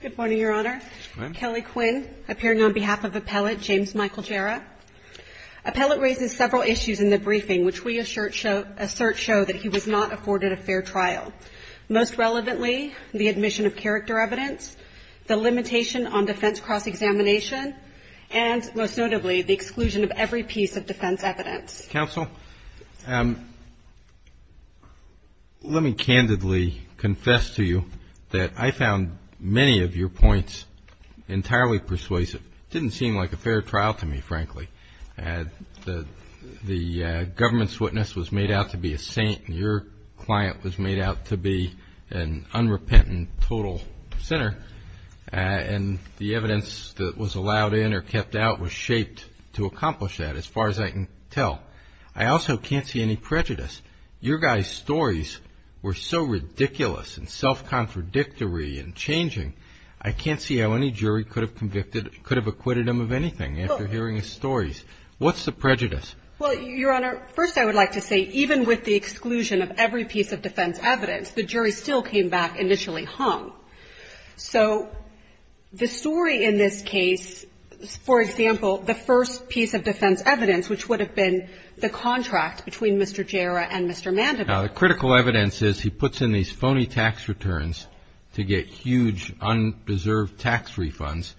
Good morning, Your Honor. Kelly Quinn, appearing on behalf of Appellate James Michael Jerra. Appellate raises several issues in the briefing which we assert show that he was not afforded a fair trial. Most relevantly, the admission of character evidence, the limitation on defense cross-examination, and most notably, the exclusion of every piece of defense evidence. Counsel, let me candidly confess to you that I found many of your points entirely persuasive. It didn't seem like a fair trial to me, frankly. The government's witness was made out to be a saint. Your client was made out to be an unrepentant, total sinner. And the evidence that was allowed in or kept out was shaped to accomplish that as far as I can tell. I also can't see any prejudice. Your guy's stories were so ridiculous and self-contradictory and changing. I can't see how any jury could have convicted, could have acquitted him of anything after hearing his stories. What's the prejudice? Well, Your Honor, first I would like to say even with the exclusion of every piece of defense evidence, the jury still came back initially hung. So the story in this case, for example, the first piece of defense evidence, which would have been the contract between Mr. Jarrah and Mr. Mandeville. Now, the critical evidence is he puts in these phony tax returns to get huge undeserved tax refunds,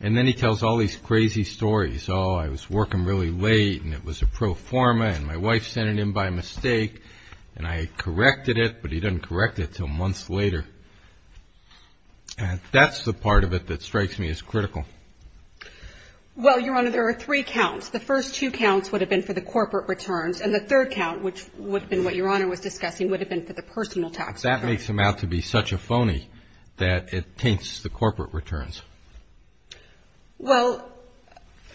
and then he tells all these crazy stories. Oh, I was working really late, and it was a pro forma, and my wife sent it in by mistake, and I corrected it, but he didn't correct it until months later. That's the part of it that strikes me as critical. Well, Your Honor, there are three counts. The first two counts would have been for the corporate returns, and the third count, which would have been what Your Honor was discussing, would have been for the personal tax returns. That makes him out to be such a phony that it taints the corporate returns. Well,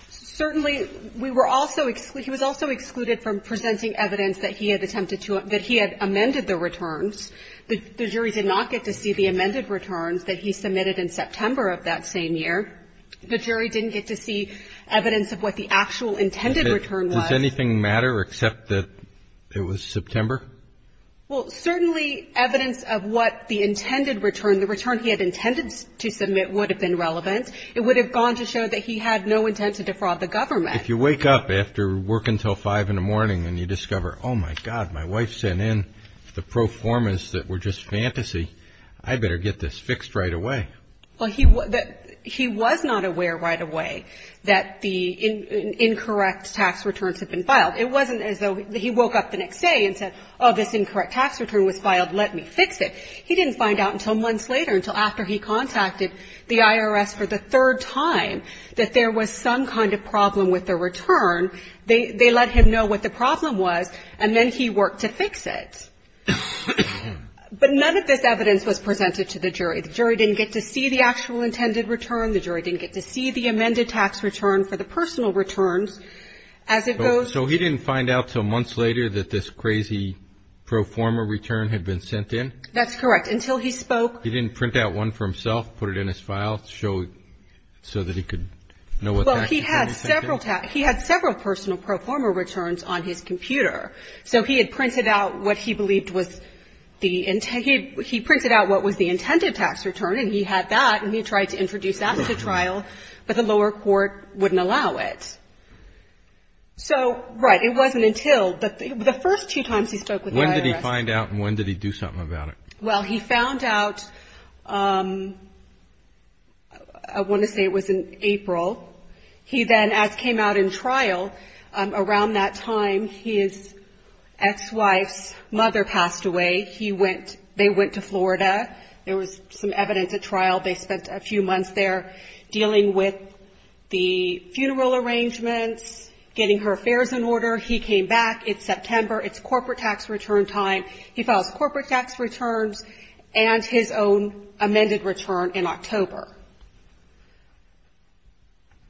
certainly we were also he was also excluded from presenting evidence that he had attempted to that he had amended the returns. The jury did not get to see the amended returns that he submitted in September of that same year. The jury didn't get to see evidence of what the actual intended return was. Does anything matter except that it was September? Well, certainly evidence of what the intended return, the return he had intended to submit would have been relevant. It would have gone to show that he had no intent to defraud the government. If you wake up after work until 5 in the morning and you discover, oh, my God, my wife sent in the pro formas that were just fantasy, I better get this fixed right away. Well, he was not aware right away that the incorrect tax returns had been filed. It wasn't as though he woke up the next day and said, oh, this incorrect tax return was filed. Let me fix it. He didn't find out until months later, until after he contacted the IRS for the third time, that there was some kind of problem with the return. They let him know what the problem was, and then he worked to fix it. But none of this evidence was presented to the jury. The jury didn't get to see the actual intended return. The jury didn't get to see the amended tax return for the personal returns. So he didn't find out until months later that this crazy pro forma return had been sent in? That's correct. Until he spoke. He didn't print out one for himself, put it in his file, show it so that he could know what the action was? Well, he had several personal pro forma returns on his computer. So he had printed out what he believed was the intended tax return, and he had that, and he tried to introduce that into trial, but the lower court wouldn't allow it. So, right, it wasn't until the first two times he spoke with the IRS. He didn't find out, and when did he do something about it? Well, he found out, I want to say it was in April. He then, as came out in trial, around that time his ex-wife's mother passed away. They went to Florida. There was some evidence at trial. They spent a few months there dealing with the funeral arrangements, getting her affairs in order. He came back. It's September. It's corporate tax return time. He files corporate tax returns and his own amended return in October.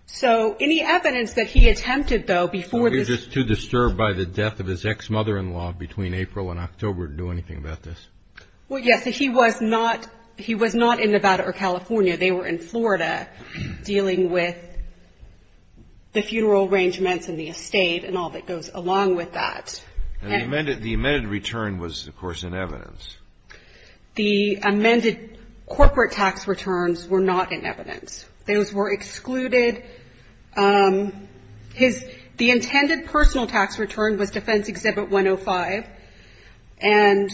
So any evidence that he attempted, though, before this ---- He was just too disturbed by the death of his ex-mother-in-law between April and October to do anything about this? Well, yes. He was not in Nevada or California. They were in Florida dealing with the funeral arrangements and the estate and all that goes along with that. And the amended return was, of course, in evidence. The amended corporate tax returns were not in evidence. Those were excluded. His ---- the intended personal tax return was Defense Exhibit 105, and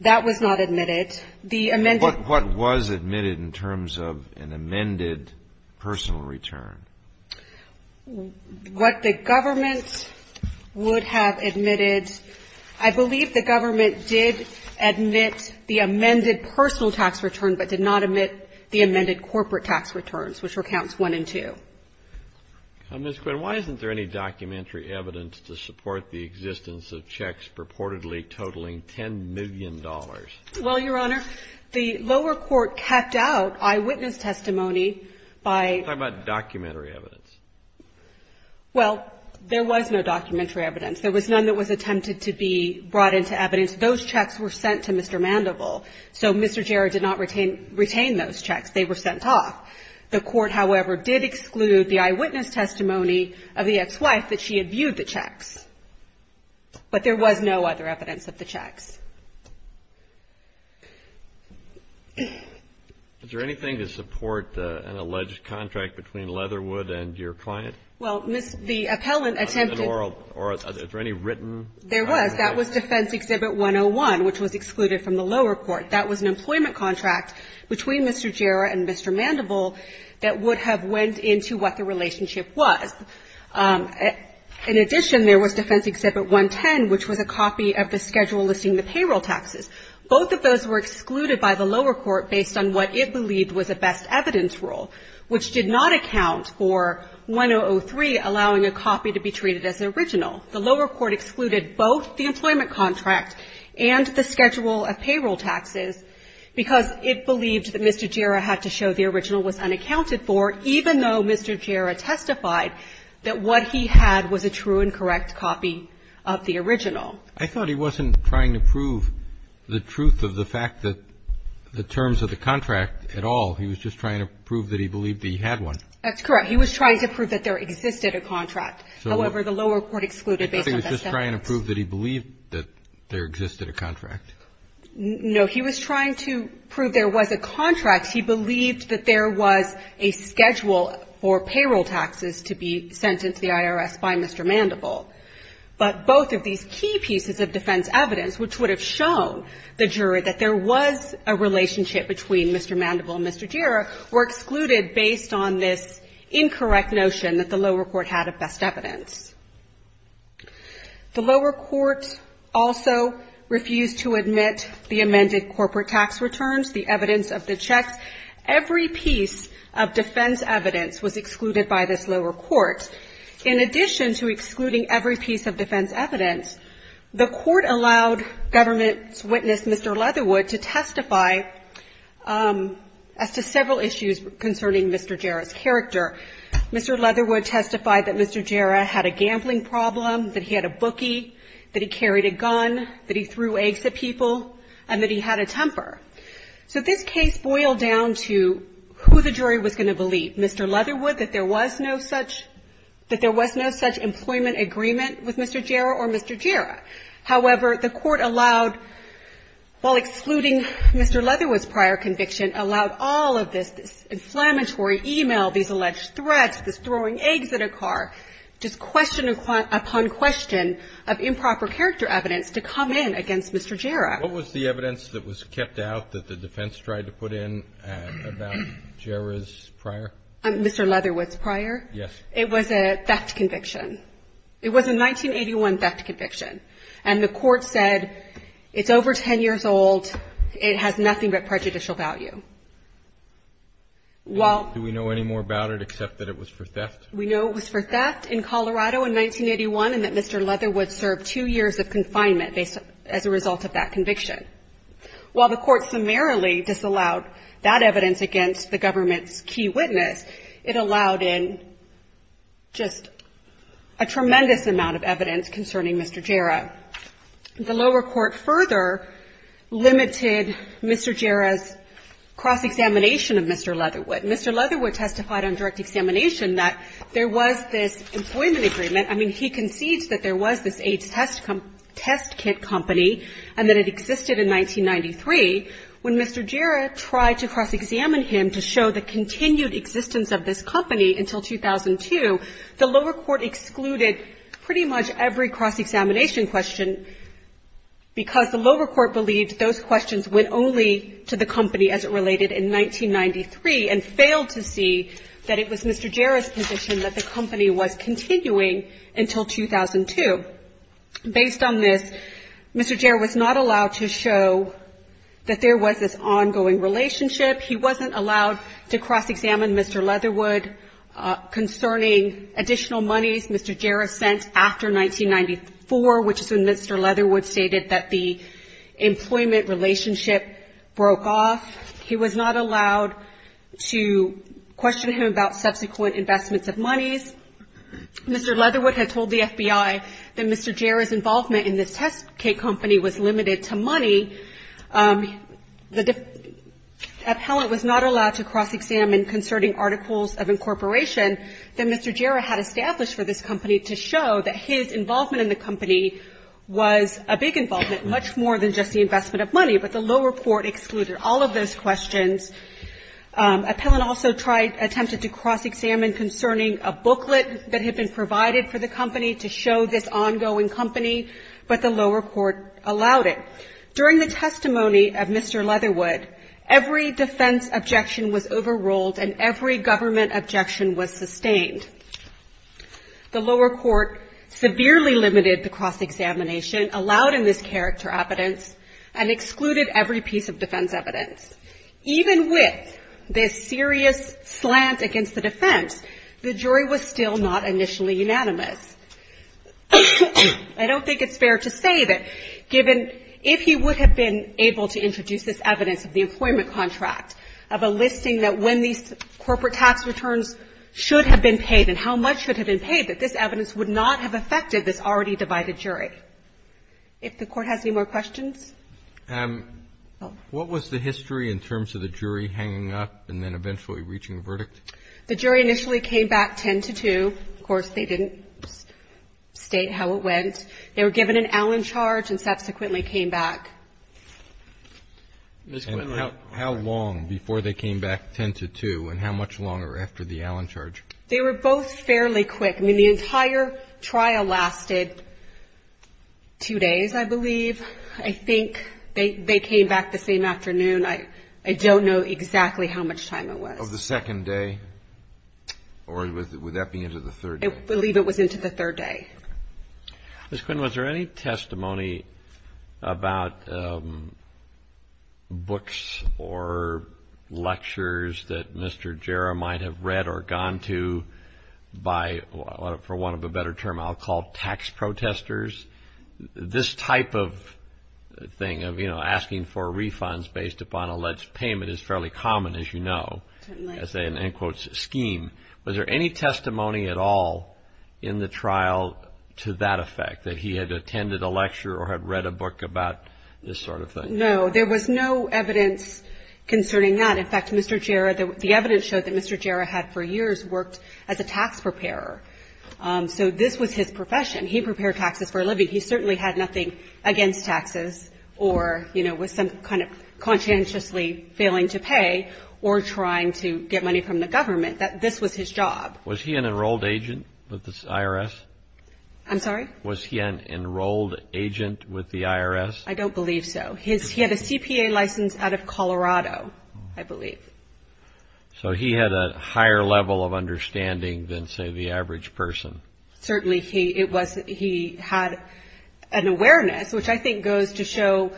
that was not admitted. The amended ---- But what was admitted in terms of an amended personal return? What the government would have admitted, I believe the government did admit the amended personal tax return but did not admit the amended corporate tax returns, which were counts one and two. Ms. Quinn, why isn't there any documentary evidence to support the existence of checks purportedly totaling $10 million? Well, Your Honor, the lower court kept out eyewitness testimony by ---- Talk about documentary evidence. Well, there was no documentary evidence. There was none that was attempted to be brought into evidence. Those checks were sent to Mr. Mandeville. So Mr. Jarrett did not retain those checks. They were sent off. The Court, however, did exclude the eyewitness testimony of the ex-wife that she had viewed the checks. But there was no other evidence of the checks. Is there anything to support an alleged contract between Leatherwood and your client? Well, Ms. ---- The appellant attempted ---- Or is there any written evidence? There was. That was Defense Exhibit 101, which was excluded from the lower court. That was an employment contract between Mr. Jarrett and Mr. Mandeville that would have went into what the relationship was. In addition, there was Defense Exhibit 110, which was a copy of the schedule listing the payroll taxes. Both of those were excluded by the lower court based on what it believed was a best evidence rule, which did not account for 1003 allowing a copy to be treated as original. The lower court excluded both the employment contract and the schedule of payroll taxes because it believed that Mr. Jarrett had to show the original was unaccounted for, even though Mr. Jarrett testified that what he had was a true and correct copy of the original. I thought he wasn't trying to prove the truth of the fact that the terms of the contract at all. He was just trying to prove that he believed that he had one. That's correct. He was trying to prove that there existed a contract. However, the lower court excluded based on best evidence. I thought he was just trying to prove that he believed that there existed a contract. No. He was trying to prove there was a contract. He believed that there was a schedule for payroll taxes to be sent into the IRS by Mr. Mandeville. But both of these key pieces of defense evidence, which would have shown the jury that there was a relationship between Mr. Mandeville and Mr. Jarrett, were excluded based on this incorrect notion that the lower court had of best evidence. The lower court also refused to admit the amended corporate tax returns, the evidence of the checks. Every piece of defense evidence was excluded by this lower court. In addition to excluding every piece of defense evidence, the court allowed government's witness, Mr. Leatherwood, to testify as to several issues concerning Mr. Jarrett's character. Mr. Leatherwood testified that Mr. Jarrett had a gambling problem, that he had a bookie, that he carried a gun, that he threw eggs at people, and that he had a temper. So this case boiled down to who the jury was going to believe, Mr. Leatherwood, that there was no such employment agreement with Mr. Jarrett or Mr. Jarrett. However, the court allowed, while excluding Mr. Leatherwood's prior conviction, allowed all of this, this inflammatory e-mail, these alleged threats, this throwing eggs at a car, just question upon question of improper character evidence to come in against Mr. Jarrett. What was the evidence that was kept out that the defense tried to put in about Jarrett's prior? Mr. Leatherwood's prior? Yes. It was a theft conviction. It was a 1981 theft conviction. And the court said, it's over 10 years old, it has nothing but prejudicial value. While Do we know any more about it except that it was for theft? We know it was for theft in Colorado in 1981, and that Mr. Leatherwood served two years of confinement as a result of that conviction. While the court summarily disallowed that evidence against the government's key witness, it allowed in just a tremendous amount of evidence concerning Mr. Jarrett. The lower court further limited Mr. Jarrett's cross-examination of Mr. Leatherwood. Mr. Leatherwood testified on direct examination that there was this employment agreement. I mean, he concedes that there was this AIDS test kit company and that it existed in 1993. When Mr. Jarrett tried to cross-examine him to show the continued existence of the company, the lower court said that Mr. Jarrett was not allowed to cross-examine And that was a cross-examination question because the lower court believed those questions went only to the company as it related in 1993 and failed to see that it was Mr. Jarrett's position that the company was continuing until 2002. Based on this, Mr. Jarrett was not allowed to show that there was this ongoing relationship. He wasn't allowed to cross-examine Mr. Leatherwood concerning additional monies Mr. Jarrett sent after 1994, which is when Mr. Leatherwood stated that the employment relationship broke off. He was not allowed to question him about subsequent investments of monies. Mr. Leatherwood had told the FBI that Mr. Jarrett's involvement in this test kit company was limited to money. The appellant was not allowed to cross-examine concerning articles of incorporation that Mr. Jarrett had established for this company to show that his involvement in the company was a big involvement, much more than just the investment of money. But the lower court excluded all of those questions. Appellant also tried to cross-examine concerning a booklet that had been provided for the company to show this ongoing company, but the lower court allowed it. During the testimony of Mr. Leatherwood, every defense objection was overruled and every government objection was sustained. The lower court severely limited the cross-examination, allowed in this character evidence, and excluded every piece of defense evidence. Even with this serious slant against the defense, the jury was still not initially unanimous. I don't think it's fair to say that given, if he would have been able to introduce this evidence of the employment contract, of a listing that when these corporate tax returns should have been paid and how much should have been paid, that this evidence would not have affected this already divided jury. If the Court has any more questions? Roberts. What was the history in terms of the jury hanging up and then eventually reaching a verdict? The jury initially came back 10-2. Of course, they didn't state how it went. They were given an Allen charge and subsequently came back. Ms. Quinlan. How long before they came back 10-2 and how much longer after the Allen charge? They were both fairly quick. I mean, the entire trial lasted two days, I believe. I think they came back the same afternoon. I don't know exactly how much time it was. Of the second day? Or would that be into the third day? I believe it was into the third day. Ms. Quinlan, was there any testimony about books or lectures that Mr. Jarrah might have read or gone to by, for want of a better term, I'll call tax protesters? This type of thing of, you know, asking for refunds based upon alleged payment is fairly common, as you know, as an end quote scheme. Was there any testimony at all in the trial to that effect, that he had attended a lecture or had read a book about this sort of thing? No. There was no evidence concerning that. In fact, Mr. Jarrah, the evidence showed that Mr. Jarrah had for years worked as a tax preparer. So this was his profession. He prepared taxes for a living. He certainly had nothing against taxes or, you know, was some kind of conscientiously failing to pay or trying to get money from the government, that this was his job. Was he an enrolled agent with the IRS? I'm sorry? Was he an enrolled agent with the IRS? I don't believe so. He had a CPA license out of Colorado, I believe. So he had a higher level of understanding than, say, the average person. Certainly, it was he had an awareness, which I think goes to show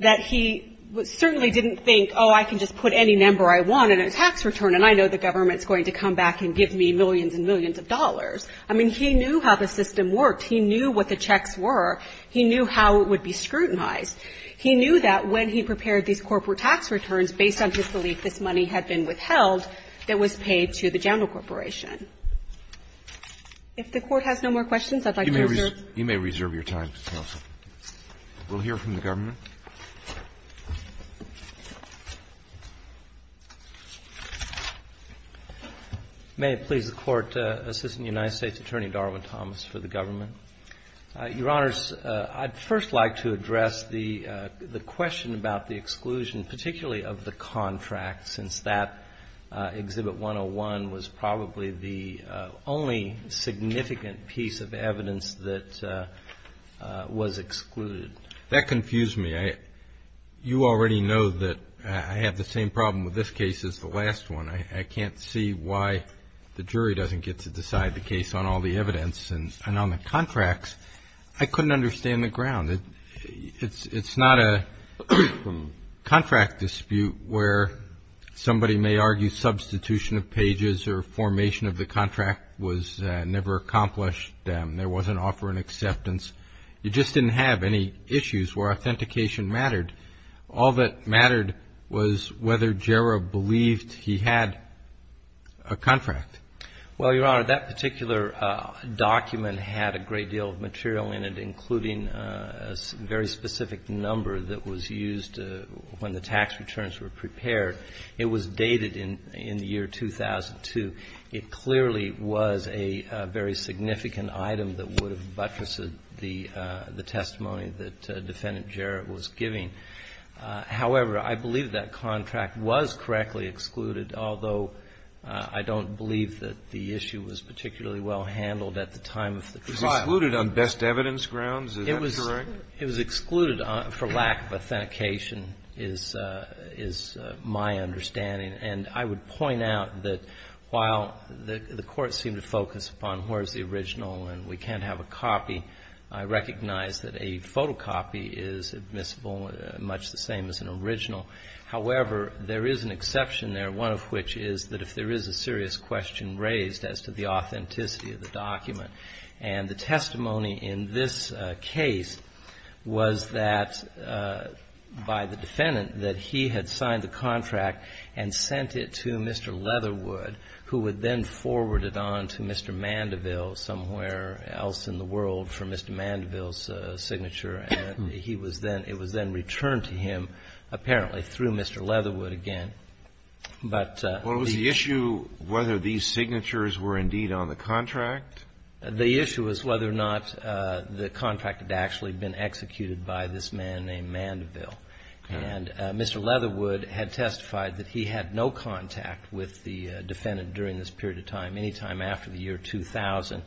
that he certainly didn't think, oh, I can just put any number I want in a tax return and I know the government is going to come back and give me millions and millions of dollars. I mean, he knew how the system worked. He knew what the checks were. He knew how it would be scrutinized. He knew that when he prepared these corporate tax returns, based on his belief this money had been withheld, it was paid to the general corporation. If the Court has no more questions, I'd like to reserve. You may reserve your time, Counsel. We'll hear from the government. May it please the Court. Assistant United States Attorney Darwin Thomas for the government. Your Honors, I'd first like to address the question about the exclusion, particularly of the contract, since that Exhibit 101 was probably the only significant piece of evidence that was excluded. That confused me. You already know that I have the same problem with this case as the last one. I can't see why the jury doesn't get to decide the case on all the evidence. And on the contracts, I couldn't understand the ground. It's not a contract dispute where somebody may argue substitution of pages or formation of the contract was never accomplished. There wasn't offer and acceptance. You just didn't have any issues where authentication mattered. All that mattered was whether Jarrah believed he had a contract. Well, Your Honor, that particular document had a great deal of material in it, including a very specific number that was used when the tax returns were prepared. It was dated in the year 2002. It clearly was a very significant item that would have buttressed the testimony that Defendant Jarrah was giving. However, I believe that contract was correctly excluded, although I don't believe that the issue was particularly well handled at the time of the trial. It was excluded on best evidence grounds? Is that correct? It was excluded for lack of authentication is my understanding. And I would point out that while the Court seemed to focus upon where's the original and we can't have a copy, I recognize that a photocopy is admissible, much the same as an original. However, there is an exception there, one of which is that if there is a serious question raised as to the authenticity of the document. And the testimony in this case was that by the Defendant that he had signed the contract and sent it to Mr. Leatherwood, who would then forward it on to Mr. Mandeville somewhere else in the world for Mr. Mandeville's signature. He was then — it was then returned to him, apparently, through Mr. Leatherwood again. But the issue — Well, was the issue whether these signatures were indeed on the contract? The issue was whether or not the contract had actually been executed by this man named Mandeville. And Mr. Leatherwood had testified that he had no contact with the Defendant during this period of time, any time after the year 2000.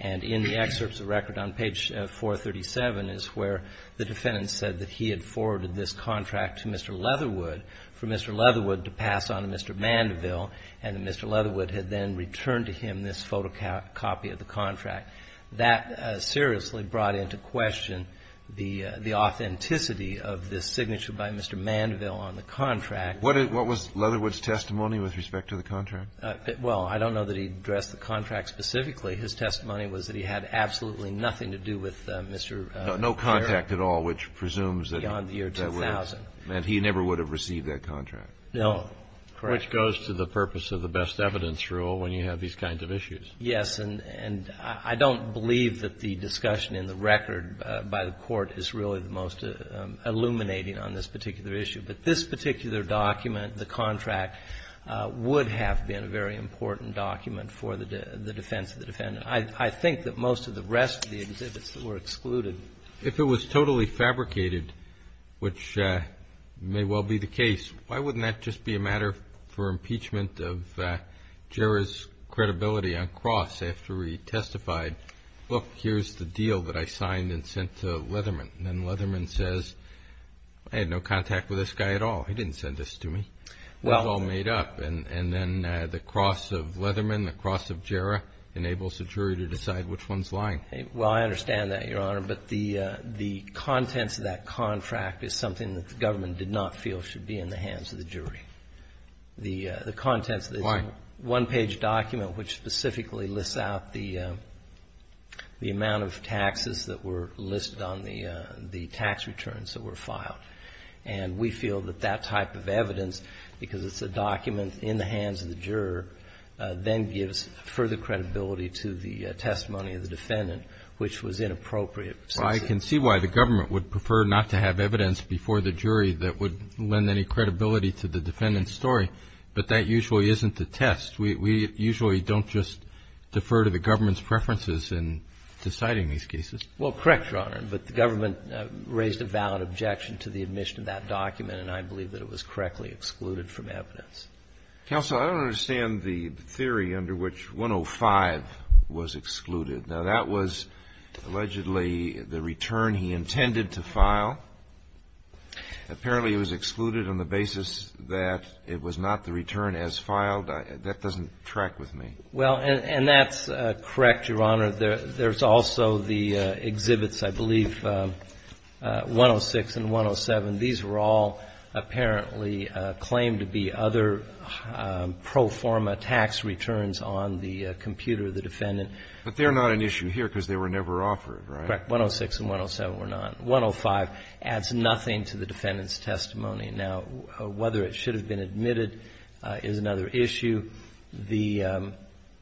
And in the excerpts of record on page 437 is where the Defendant said that he had addressed the contract to Mr. Leatherwood for Mr. Leatherwood to pass on to Mr. Mandeville, and Mr. Leatherwood had then returned to him this photocopy of the contract. That seriously brought into question the authenticity of this signature by Mr. Mandeville on the contract. What was Leatherwood's testimony with respect to the contract? Well, I don't know that he addressed the contract specifically. His testimony was that he had absolutely nothing to do with Mr. Leatherwood. He had no contact at all, which presumes that that was the case. Beyond the year 2000. And he never would have received that contract. No. Correct. Which goes to the purpose of the best evidence rule when you have these kinds of issues. Yes. And I don't believe that the discussion in the record by the Court is really the most illuminating on this particular issue. But this particular document, the contract, would have been a very important document for the defense of the Defendant. I think that most of the rest of the exhibits were excluded. If it was totally fabricated, which may well be the case, why wouldn't that just be a matter for impeachment of Jarrah's credibility on Cross after he testified, look, here's the deal that I signed and sent to Leatherman. And Leatherman says, I had no contact with this guy at all. He didn't send this to me. It was all made up. And then the Cross of Leatherman, the Cross of Jarrah, enables the jury to decide which one's lying. Well, I understand that, Your Honor. But the contents of that contract is something that the government did not feel should be in the hands of the jury. The contents of this one-page document, which specifically lists out the amount of taxes that were listed on the tax returns that were filed. And we feel that that type of evidence, because it's a document in the hands of the government, which was inappropriate. Well, I can see why the government would prefer not to have evidence before the jury that would lend any credibility to the defendant's story. But that usually isn't the test. We usually don't just defer to the government's preferences in deciding these cases. Well, correct, Your Honor. But the government raised a valid objection to the admission of that document, and I believe that it was correctly excluded from evidence. Counsel, I don't understand the theory under which 105 was excluded. Now, that was allegedly the return he intended to file. Apparently, it was excluded on the basis that it was not the return as filed. That doesn't track with me. Well, and that's correct, Your Honor. There's also the exhibits, I believe, 106 and 107. These were all apparently claimed to be other pro forma tax returns on the computer of the defendant. But they're not an issue here because they were never offered, right? Correct. 106 and 107 were not. 105 adds nothing to the defendant's testimony. Now, whether it should have been admitted is another issue. The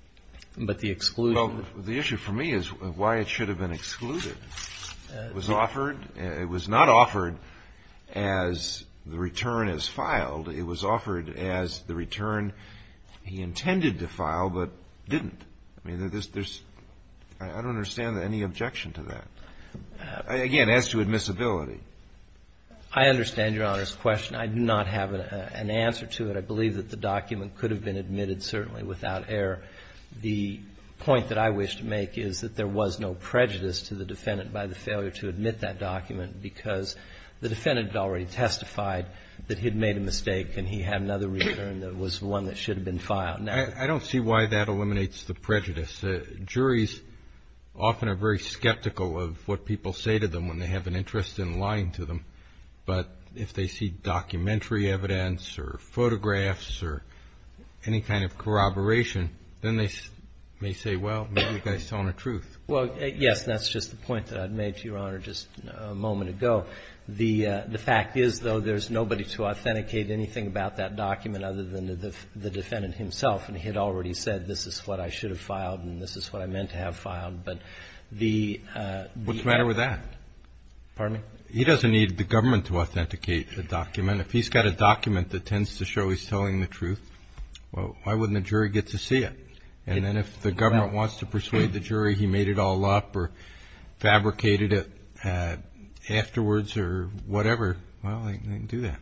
— but the exclusion. Well, the issue for me is why it should have been excluded. It was offered. It was not offered as the return as filed. It was offered as the return he intended to file but didn't. I mean, there's — I don't understand any objection to that. Again, as to admissibility. I understand Your Honor's question. I do not have an answer to it. I believe that the document could have been admitted, certainly, without error. The point that I wish to make is that there was no prejudice to the defendant by the failure to admit that document because the defendant had already testified that he had made a mistake and he had another return that was one that should have been filed. I don't see why that eliminates the prejudice. Juries often are very skeptical of what people say to them when they have an interest in lying to them. But if they see documentary evidence or photographs or any kind of corroboration, then they may say, well, maybe the guy's telling the truth. Well, yes, and that's just the point that I made to Your Honor just a moment ago. The fact is, though, there's nobody to authenticate anything about that document other than the defendant himself. And he had already said this is what I should have filed and this is what I meant to have filed. But the ---- What's the matter with that? Pardon me? He doesn't need the government to authenticate the document. If he's got a document that tends to show he's telling the truth, well, why wouldn't the jury get to see it? And then if the government wants to persuade the jury he made it all up or fabricated it afterwards or whatever, well, they can do that.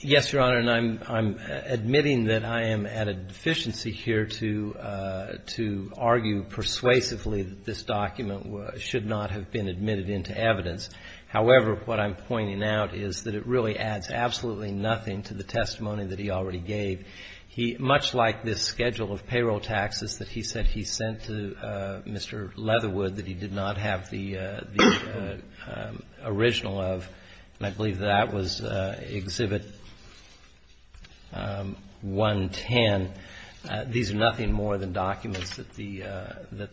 Yes, Your Honor, and I'm admitting that I am at a deficiency here to argue persuasively that this document should not have been admitted into evidence. However, what I'm pointing out is that it really adds absolutely nothing to the testimony that he already gave. Much like this schedule of payroll taxes that he said he sent to Mr. Leatherwood that he did not have the original of. And I believe that that was Exhibit 110. These are nothing more than documents that the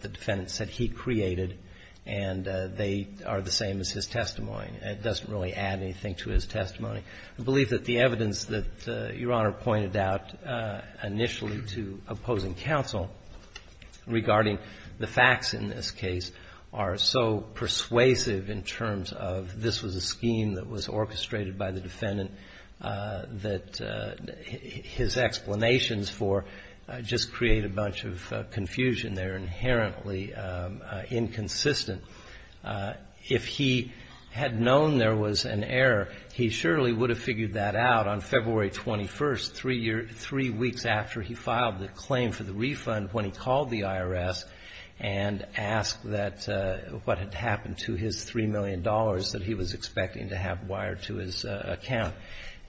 defendant said he created and they are the same as his testimony. It doesn't really add anything to his testimony. I believe that the evidence that Your Honor pointed out initially to opposing counsel regarding the facts in this case are so persuasive in terms of this was a scheme that was orchestrated by the defendant that his explanations for just create a bunch of confusion. They're inherently inconsistent. If he had known there was an error, he surely would have figured that out on February 21st, three weeks after he filed the claim for the refund when he called the IRS and asked that what had happened to his $3 million that he was expecting to have wired to his account.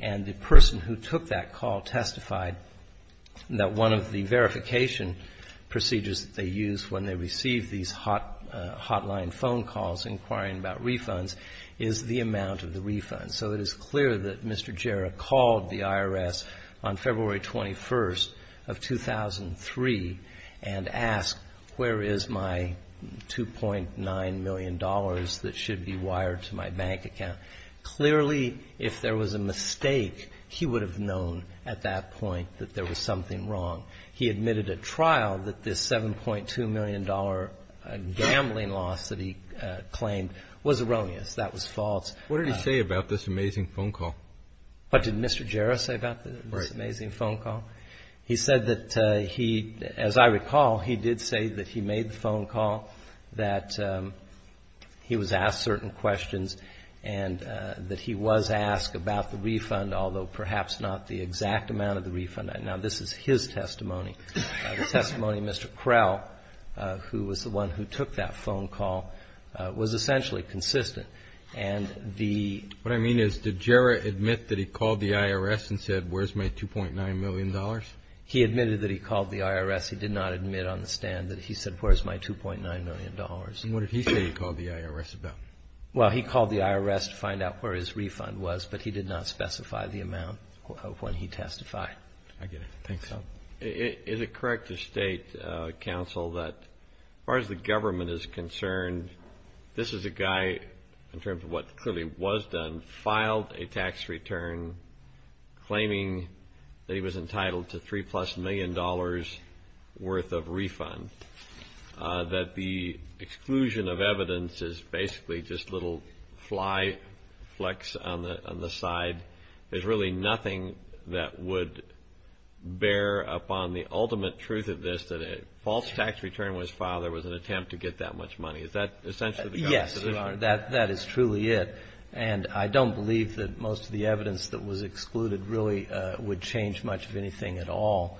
And the person who took that call testified that one of the verification procedures that they use when they receive these hotline phone calls inquiring about refunds is the amount of the refund. So it is clear that Mr. Jarrah called the IRS on February 21st of 2003 and asked where is my $2.9 million that should be wired to my bank account. Clearly, if there was a mistake, he would have known at that point that there was something wrong. He admitted at trial that this $7.2 million gambling loss that he claimed was erroneous. That was false. What did he say about this amazing phone call? What did Mr. Jarrah say about this amazing phone call? He said that he, as I recall, he did say that he made the phone call, that he was asked certain questions, and that he was asked about the refund, although perhaps not the exact amount of the refund. Now, this is his testimony. The testimony of Mr. Krell, who was the one who took that phone call, was essentially consistent. And the What I mean is, did Jarrah admit that he called the IRS and said where is my $2.9 million? He admitted that he called the IRS. He did not admit on the stand that he said where is my $2.9 million. And what did he say he called the IRS about? Well, he called the IRS to find out where his refund was, but he did not specify the amount when he testified. I get it. Thanks. Is it correct to state, counsel, that as far as the government is concerned, this is a guy, in terms of what clearly was done, filed a tax return claiming that he was entitled to three plus million dollars worth of refund, that the exclusion of evidence is basically just little fly flecks on the side? There's really nothing that would bear upon the ultimate truth of this that a false tax return was filed. There was an attempt to get that much money. Is that essentially the government's position? Yes, Your Honor. That is truly it. And I don't believe that most of the evidence that was excluded really would change much of anything at all.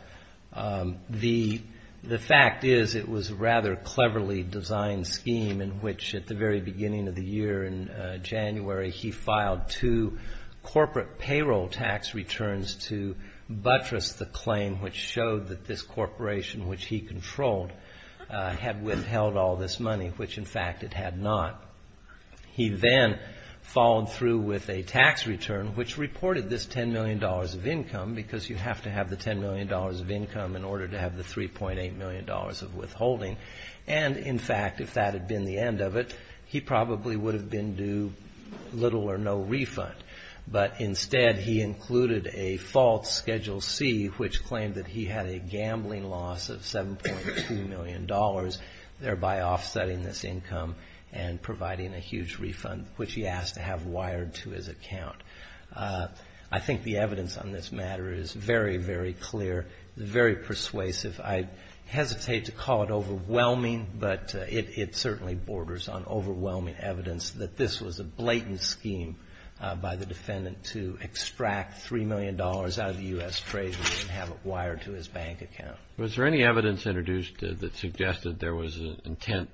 The fact is it was a rather cleverly designed scheme in which at the very beginning of the year in January, he filed two corporate payroll tax returns to buttress the claim which showed that this corporation which he controlled had withheld all this money, which in fact it had not. He then followed through with a tax return which reported this $10 million of income because you have to have the $10 million of income in order to have the $3.8 million of withholding. And in fact, if that had been the end of it, he probably would have been due little or no refund. But instead, he included a false Schedule C which claimed that he had a gambling loss of $7.2 million, thereby offsetting this income and providing a huge refund which he asked to have wired to his account. I think the evidence on this matter is very, very clear, very persuasive. I hesitate to call it overwhelming, but it certainly borders on overwhelming evidence that this was a blatant scheme by the defendant to extract $3 million out of the U.S. treasury and have it wired to his bank account. Was there any evidence introduced that suggested there was an intent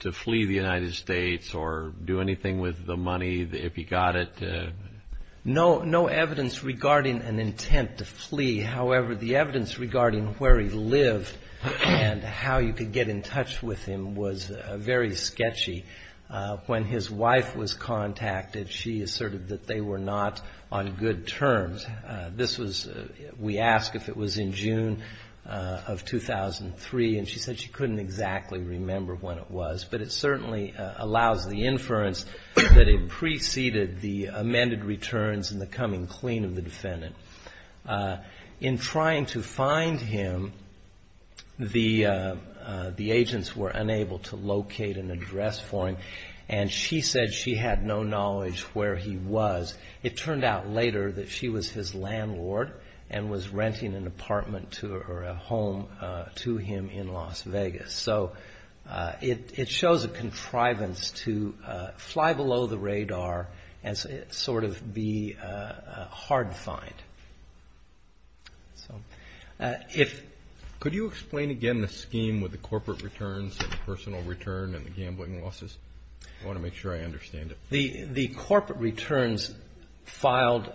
to flee the United States or do anything with the money if he got it? No, no evidence regarding an intent to flee. However, the evidence regarding where he lived and how you could get in touch with him was very sketchy. When his wife was contacted, she asserted that they were not on good terms. This was, we asked if it was in June of 2003, and she said she couldn't exactly remember when it was. But it certainly allows the inference that it preceded the amended returns and the coming clean of the defendant. In trying to find him, the agents were unable to locate an address for him, and she said she had no knowledge where he was. It turned out later that she was his landlord and was renting an apartment or a home to him in Las Vegas. So it shows a contrivance to fly below the radar and sort of be hard to find. So could you explain again the scheme with the corporate returns and the personal return and the gambling losses? I want to make sure I understand it. The corporate returns filed.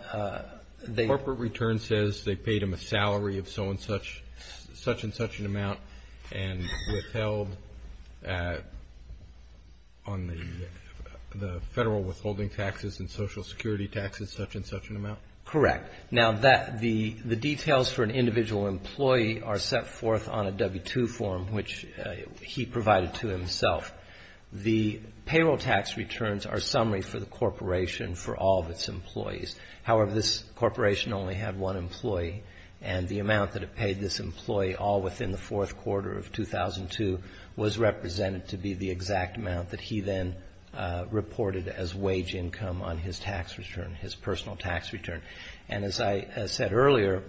The corporate return says they paid him a salary of so and such, such and such an amount, and withheld on the federal withholding taxes and social security taxes such and such an amount? Correct. Now, the details for an individual employee are set forth on a W-2 form, which he provided to himself. The payroll tax returns are summary for the corporation for all of its employees. However, this corporation only had one employee, and the amount that it paid this employee all within the fourth quarter of 2002 was represented to be the exact amount that he then reported as wage income on his tax return, his personal tax return. And as I said earlier,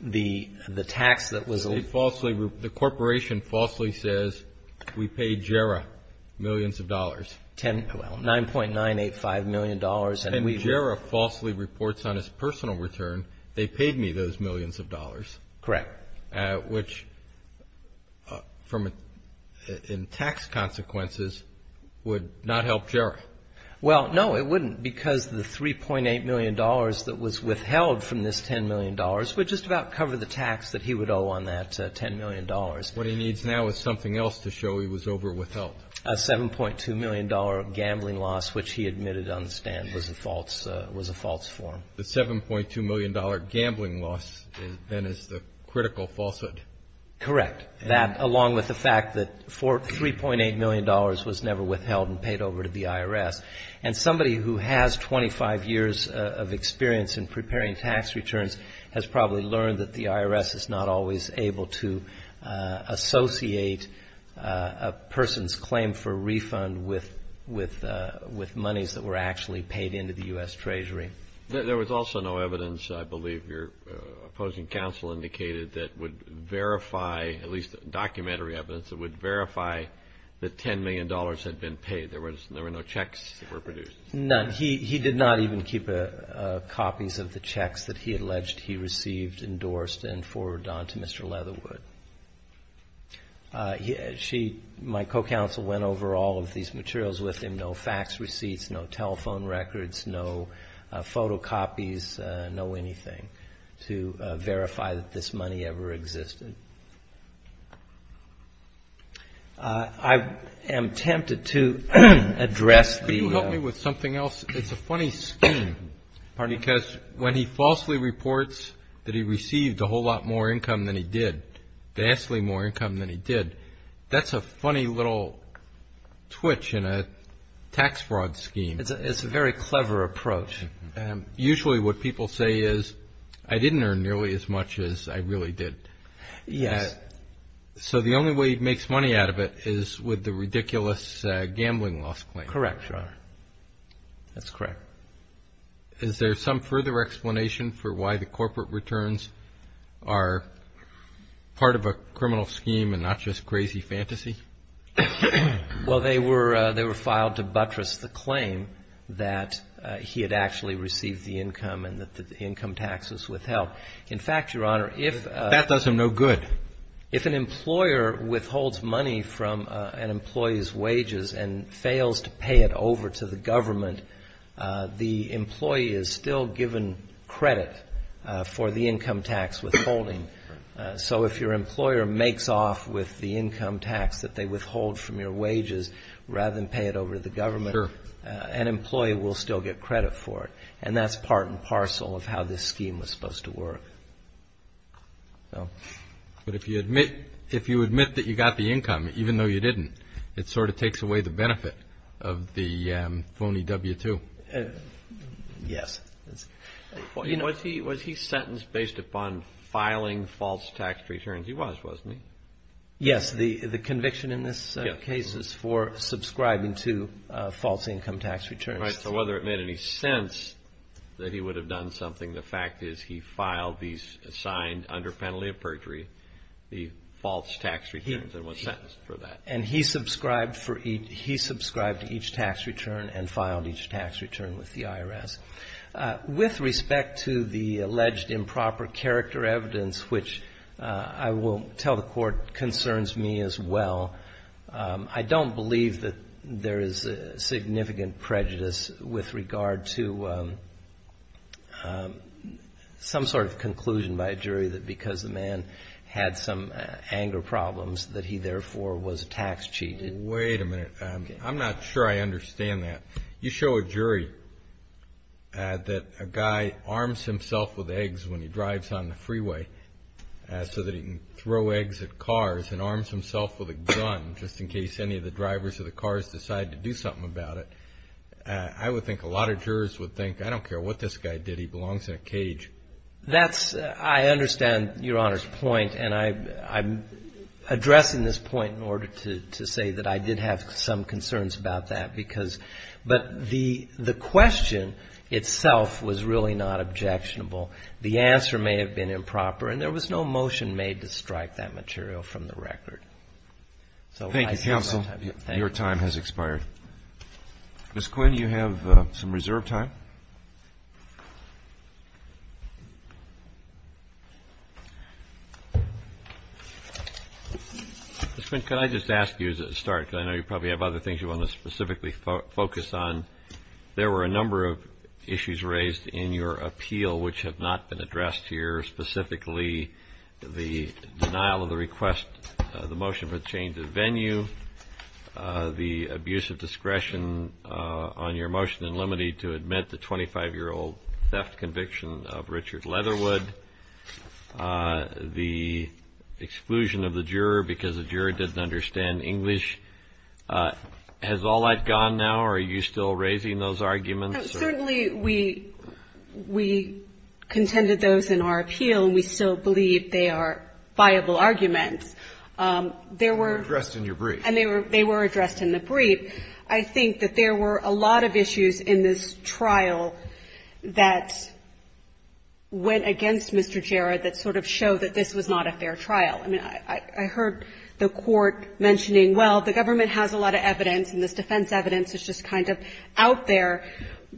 the tax that was... The corporation falsely says we paid Jarrah millions of dollars. Well, $9.985 million, and we... And Jarrah falsely reports on his personal return they paid me those millions of dollars. Correct. Which, in tax consequences, would not help Jarrah. Well, no, it wouldn't, because the $3.8 million that was withheld from this $10 million would just about cover the tax that he would owe on that $10 million. What he needs now is something else to show he was overwithheld. A $7.2 million gambling loss, which he admitted on the stand was a false form. The $7.2 million gambling loss, then, is the critical falsehood. Correct. That, along with the fact that $3.8 million was never withheld and paid over to the IRS. And somebody who has 25 years of experience in preparing tax returns has probably learned that the IRS is not always able to associate a person's claim for refund with monies that were actually paid into the U.S. Treasury. There was also no evidence, I believe your opposing counsel indicated, that would verify, at least documentary evidence, that would verify that $10 million had been paid. There were no checks that were produced. None. He did not even keep copies of the checks that he alleged he received, endorsed, and forwarded on to Mr. Leatherwood. My co-counsel went over all of these materials with him, no fax receipts, no telephone records, no photocopies, no anything, to verify that this money ever existed. I am tempted to address the- Could you help me with something else? It's a funny scheme because when he falsely reports that he received a whole lot more income than he did, vastly more income than he did, that's a funny little twitch in a tax fraud scheme. It's a very clever approach. Usually what people say is, I didn't earn nearly as much as I really did. Yes. So the only way he makes money out of it is with the ridiculous gambling loss claim. Correct, Your Honor. That's correct. Is there some further explanation for why the corporate returns are part of a criminal scheme and not just crazy fantasy? Well, they were filed to buttress the claim that he had actually received the income and that the income tax was withheld. In fact, Your Honor, if- That does him no good. If an employer withholds money from an employee's wages and fails to pay it over to the government, the employee is still given credit for the income tax withholding. So if your employer makes off with the income tax that they withhold from your wages rather than pay it over to the government, an employee will still get credit for it. And that's part and parcel of how this scheme was supposed to work. But if you admit that you got the income, even though you didn't, it sort of takes away the benefit of the phony W-2. Yes. Was he sentenced based upon filing false tax returns? He was, wasn't he? Yes. The conviction in this case is for subscribing to false income tax returns. All right. So whether it made any sense that he would have done something, the fact is he filed these assigned under penalty of perjury, the false tax returns, and was sentenced for that. And he subscribed each tax return and filed each tax return with the IRS. With respect to the alleged improper character evidence, which I will tell the Court, concerns me as well, I don't believe that there is significant prejudice with regard to some sort of conclusion by a jury that because the man had some anger problems that he therefore was tax cheated. Wait a minute. I'm not sure I understand that. You show a jury that a guy arms himself with eggs when he drives on the freeway so that he can throw eggs at cars and arms himself with a gun just in case any of the drivers of the cars decide to do something about it. I would think a lot of jurors would think, I don't care what this guy did, he belongs in a cage. That's – I understand Your Honor's point, and I'm addressing this point in order to say that I did have some concerns about that because – but the question itself was really not objectionable. The answer may have been improper. And there was no motion made to strike that material from the record. So I see no time. Thank you, counsel. Your time has expired. Ms. Quinn, you have some reserve time. Ms. Quinn, could I just ask you as a start, because I know you probably have other things you want to specifically focus on, there were a number of issues raised in your appeal which have not been addressed here, specifically the denial of the request, the motion for the change of venue, the abuse of discretion on your motion in limine to admit the 25-year-old theft conviction of Richard Leatherwood, the exclusion of the juror because the juror didn't understand English. Has all that gone now, or are you still raising those arguments? Certainly, we contended those in our appeal, and we still believe they are viable arguments. They were addressed in your brief. And they were addressed in the brief. I think that there were a lot of issues in this trial that went against Mr. Jarrett that sort of showed that this was not a fair trial. I mean, I heard the Court mentioning, well, the government has a lot of evidence, and this defense evidence is just kind of out there,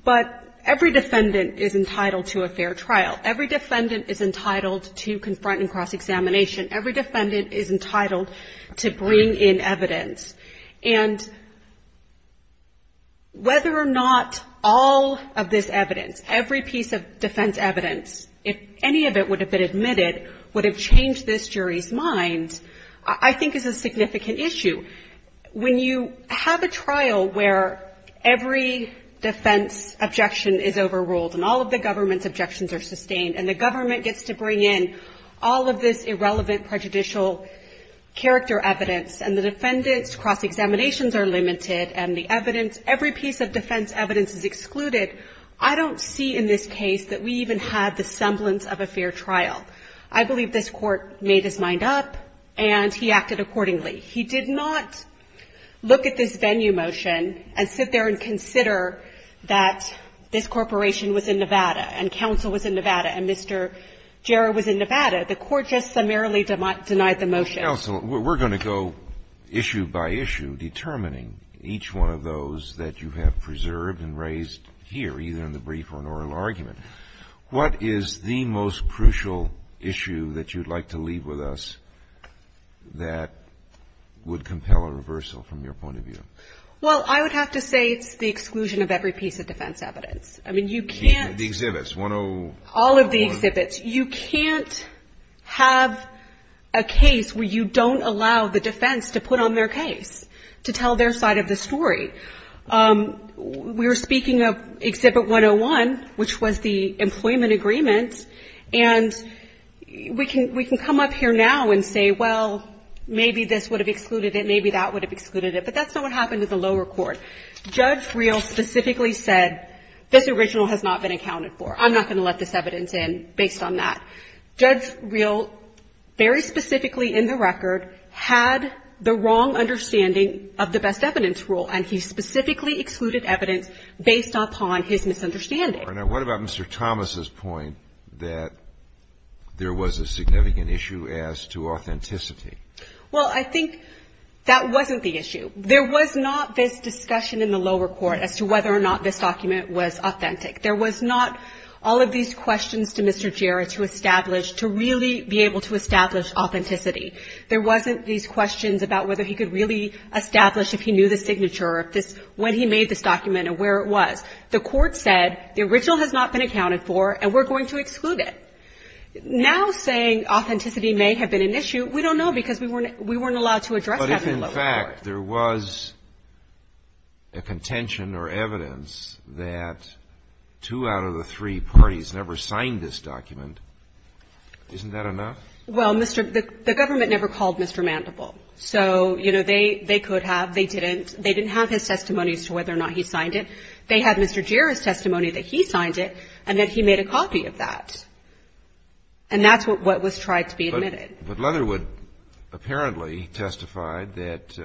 but every defendant is entitled to a fair trial. Every defendant is entitled to confront and cross-examination. Every defendant is entitled to bring in evidence. And whether or not all of this evidence, every piece of defense evidence, if any of it would have been admitted, would have changed this jury's mind, I think is a significant issue. When you have a trial where every defense objection is overruled and all of the government's objections are sustained, and the government gets to bring in all of this irrelevant prejudicial character evidence, and the defendants' cross-examinations are limited, and the evidence, every piece of defense evidence is excluded, I don't see in this case that we even had the semblance of a fair trial. I believe this Court made its mind up, and he acted accordingly. He did not look at this venue motion and sit there and consider that this corporation was in Nevada and counsel was in Nevada and Mr. Jarrett was in Nevada. The Court just summarily denied the motion. Kennedy. Counsel, we're going to go issue by issue determining each one of those that you have preserved and raised here, either in the brief or an oral argument. What is the most crucial issue that you'd like to leave with us that would compel a reversal from your point of view? Well, I would have to say it's the exclusion of every piece of defense evidence. I mean, you can't. The exhibits. All of the exhibits. You can't have a case where you don't allow the defense to put on their case, to tell their side of the story. We were speaking of Exhibit 101, which was the employment agreement, and we can come up here now and say, well, maybe this would have excluded it, maybe that would have excluded it. But that's not what happened in the lower court. Judge Reel specifically said, this original has not been accounted for. I'm not going to let this evidence in based on that. Judge Reel, very specifically in the record, had the wrong understanding of the best evidence rule, and he specifically excluded evidence based upon his misunderstanding. What about Mr. Thomas's point that there was a significant issue as to authenticity? Well, I think that wasn't the issue. There was not this discussion in the lower court as to whether or not this document was authentic. There was not all of these questions to Mr. Jarrett to establish, to really be able to establish authenticity. There wasn't these questions about whether he could really establish if he knew the signature, when he made this document and where it was. The court said, the original has not been accounted for and we're going to exclude it. Now saying authenticity may have been an issue, we don't know because we weren't allowed to address that in the lower court. In fact, there was a contention or evidence that two out of the three parties never signed this document. Isn't that enough? Well, the government never called Mr. Mandeville. So, you know, they could have. They didn't. They didn't have his testimony as to whether or not he signed it. They had Mr. Jarrett's testimony that he signed it and that he made a copy of that. And that's what was tried to be admitted. But Leatherwood apparently testified that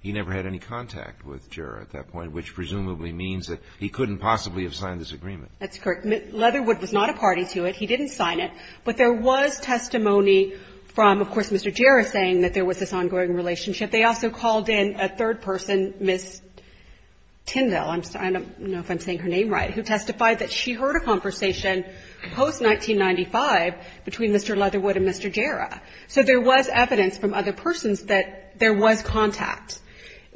he never had any contact with Jarrett at that point, which presumably means that he couldn't possibly have signed this agreement. That's correct. Leatherwood was not a party to it. He didn't sign it. But there was testimony from, of course, Mr. Jarrett saying that there was this ongoing relationship. They also called in a third person, Ms. Tindall, I don't know if I'm saying her name right, who testified that she heard a conversation post-1995 between Mr. Leatherwood and Mr. Jarrett. So there was evidence from other persons that there was contact.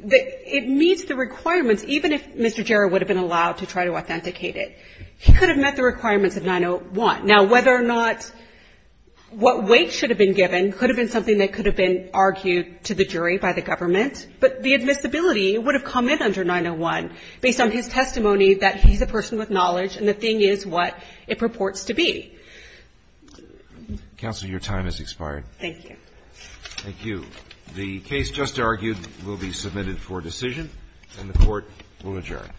It meets the requirements, even if Mr. Jarrett would have been allowed to try to authenticate it. He could have met the requirements of 901. Now, whether or not what weight should have been given could have been something that could have been argued to the jury by the government, but the admissibility would have come in under 901 based on his testimony that he's a person with knowledge and the thing is what it purports to be. Counsel, your time has expired. Thank you. Thank you. The case just argued will be submitted for decision, and the Court will adjourn. All rise.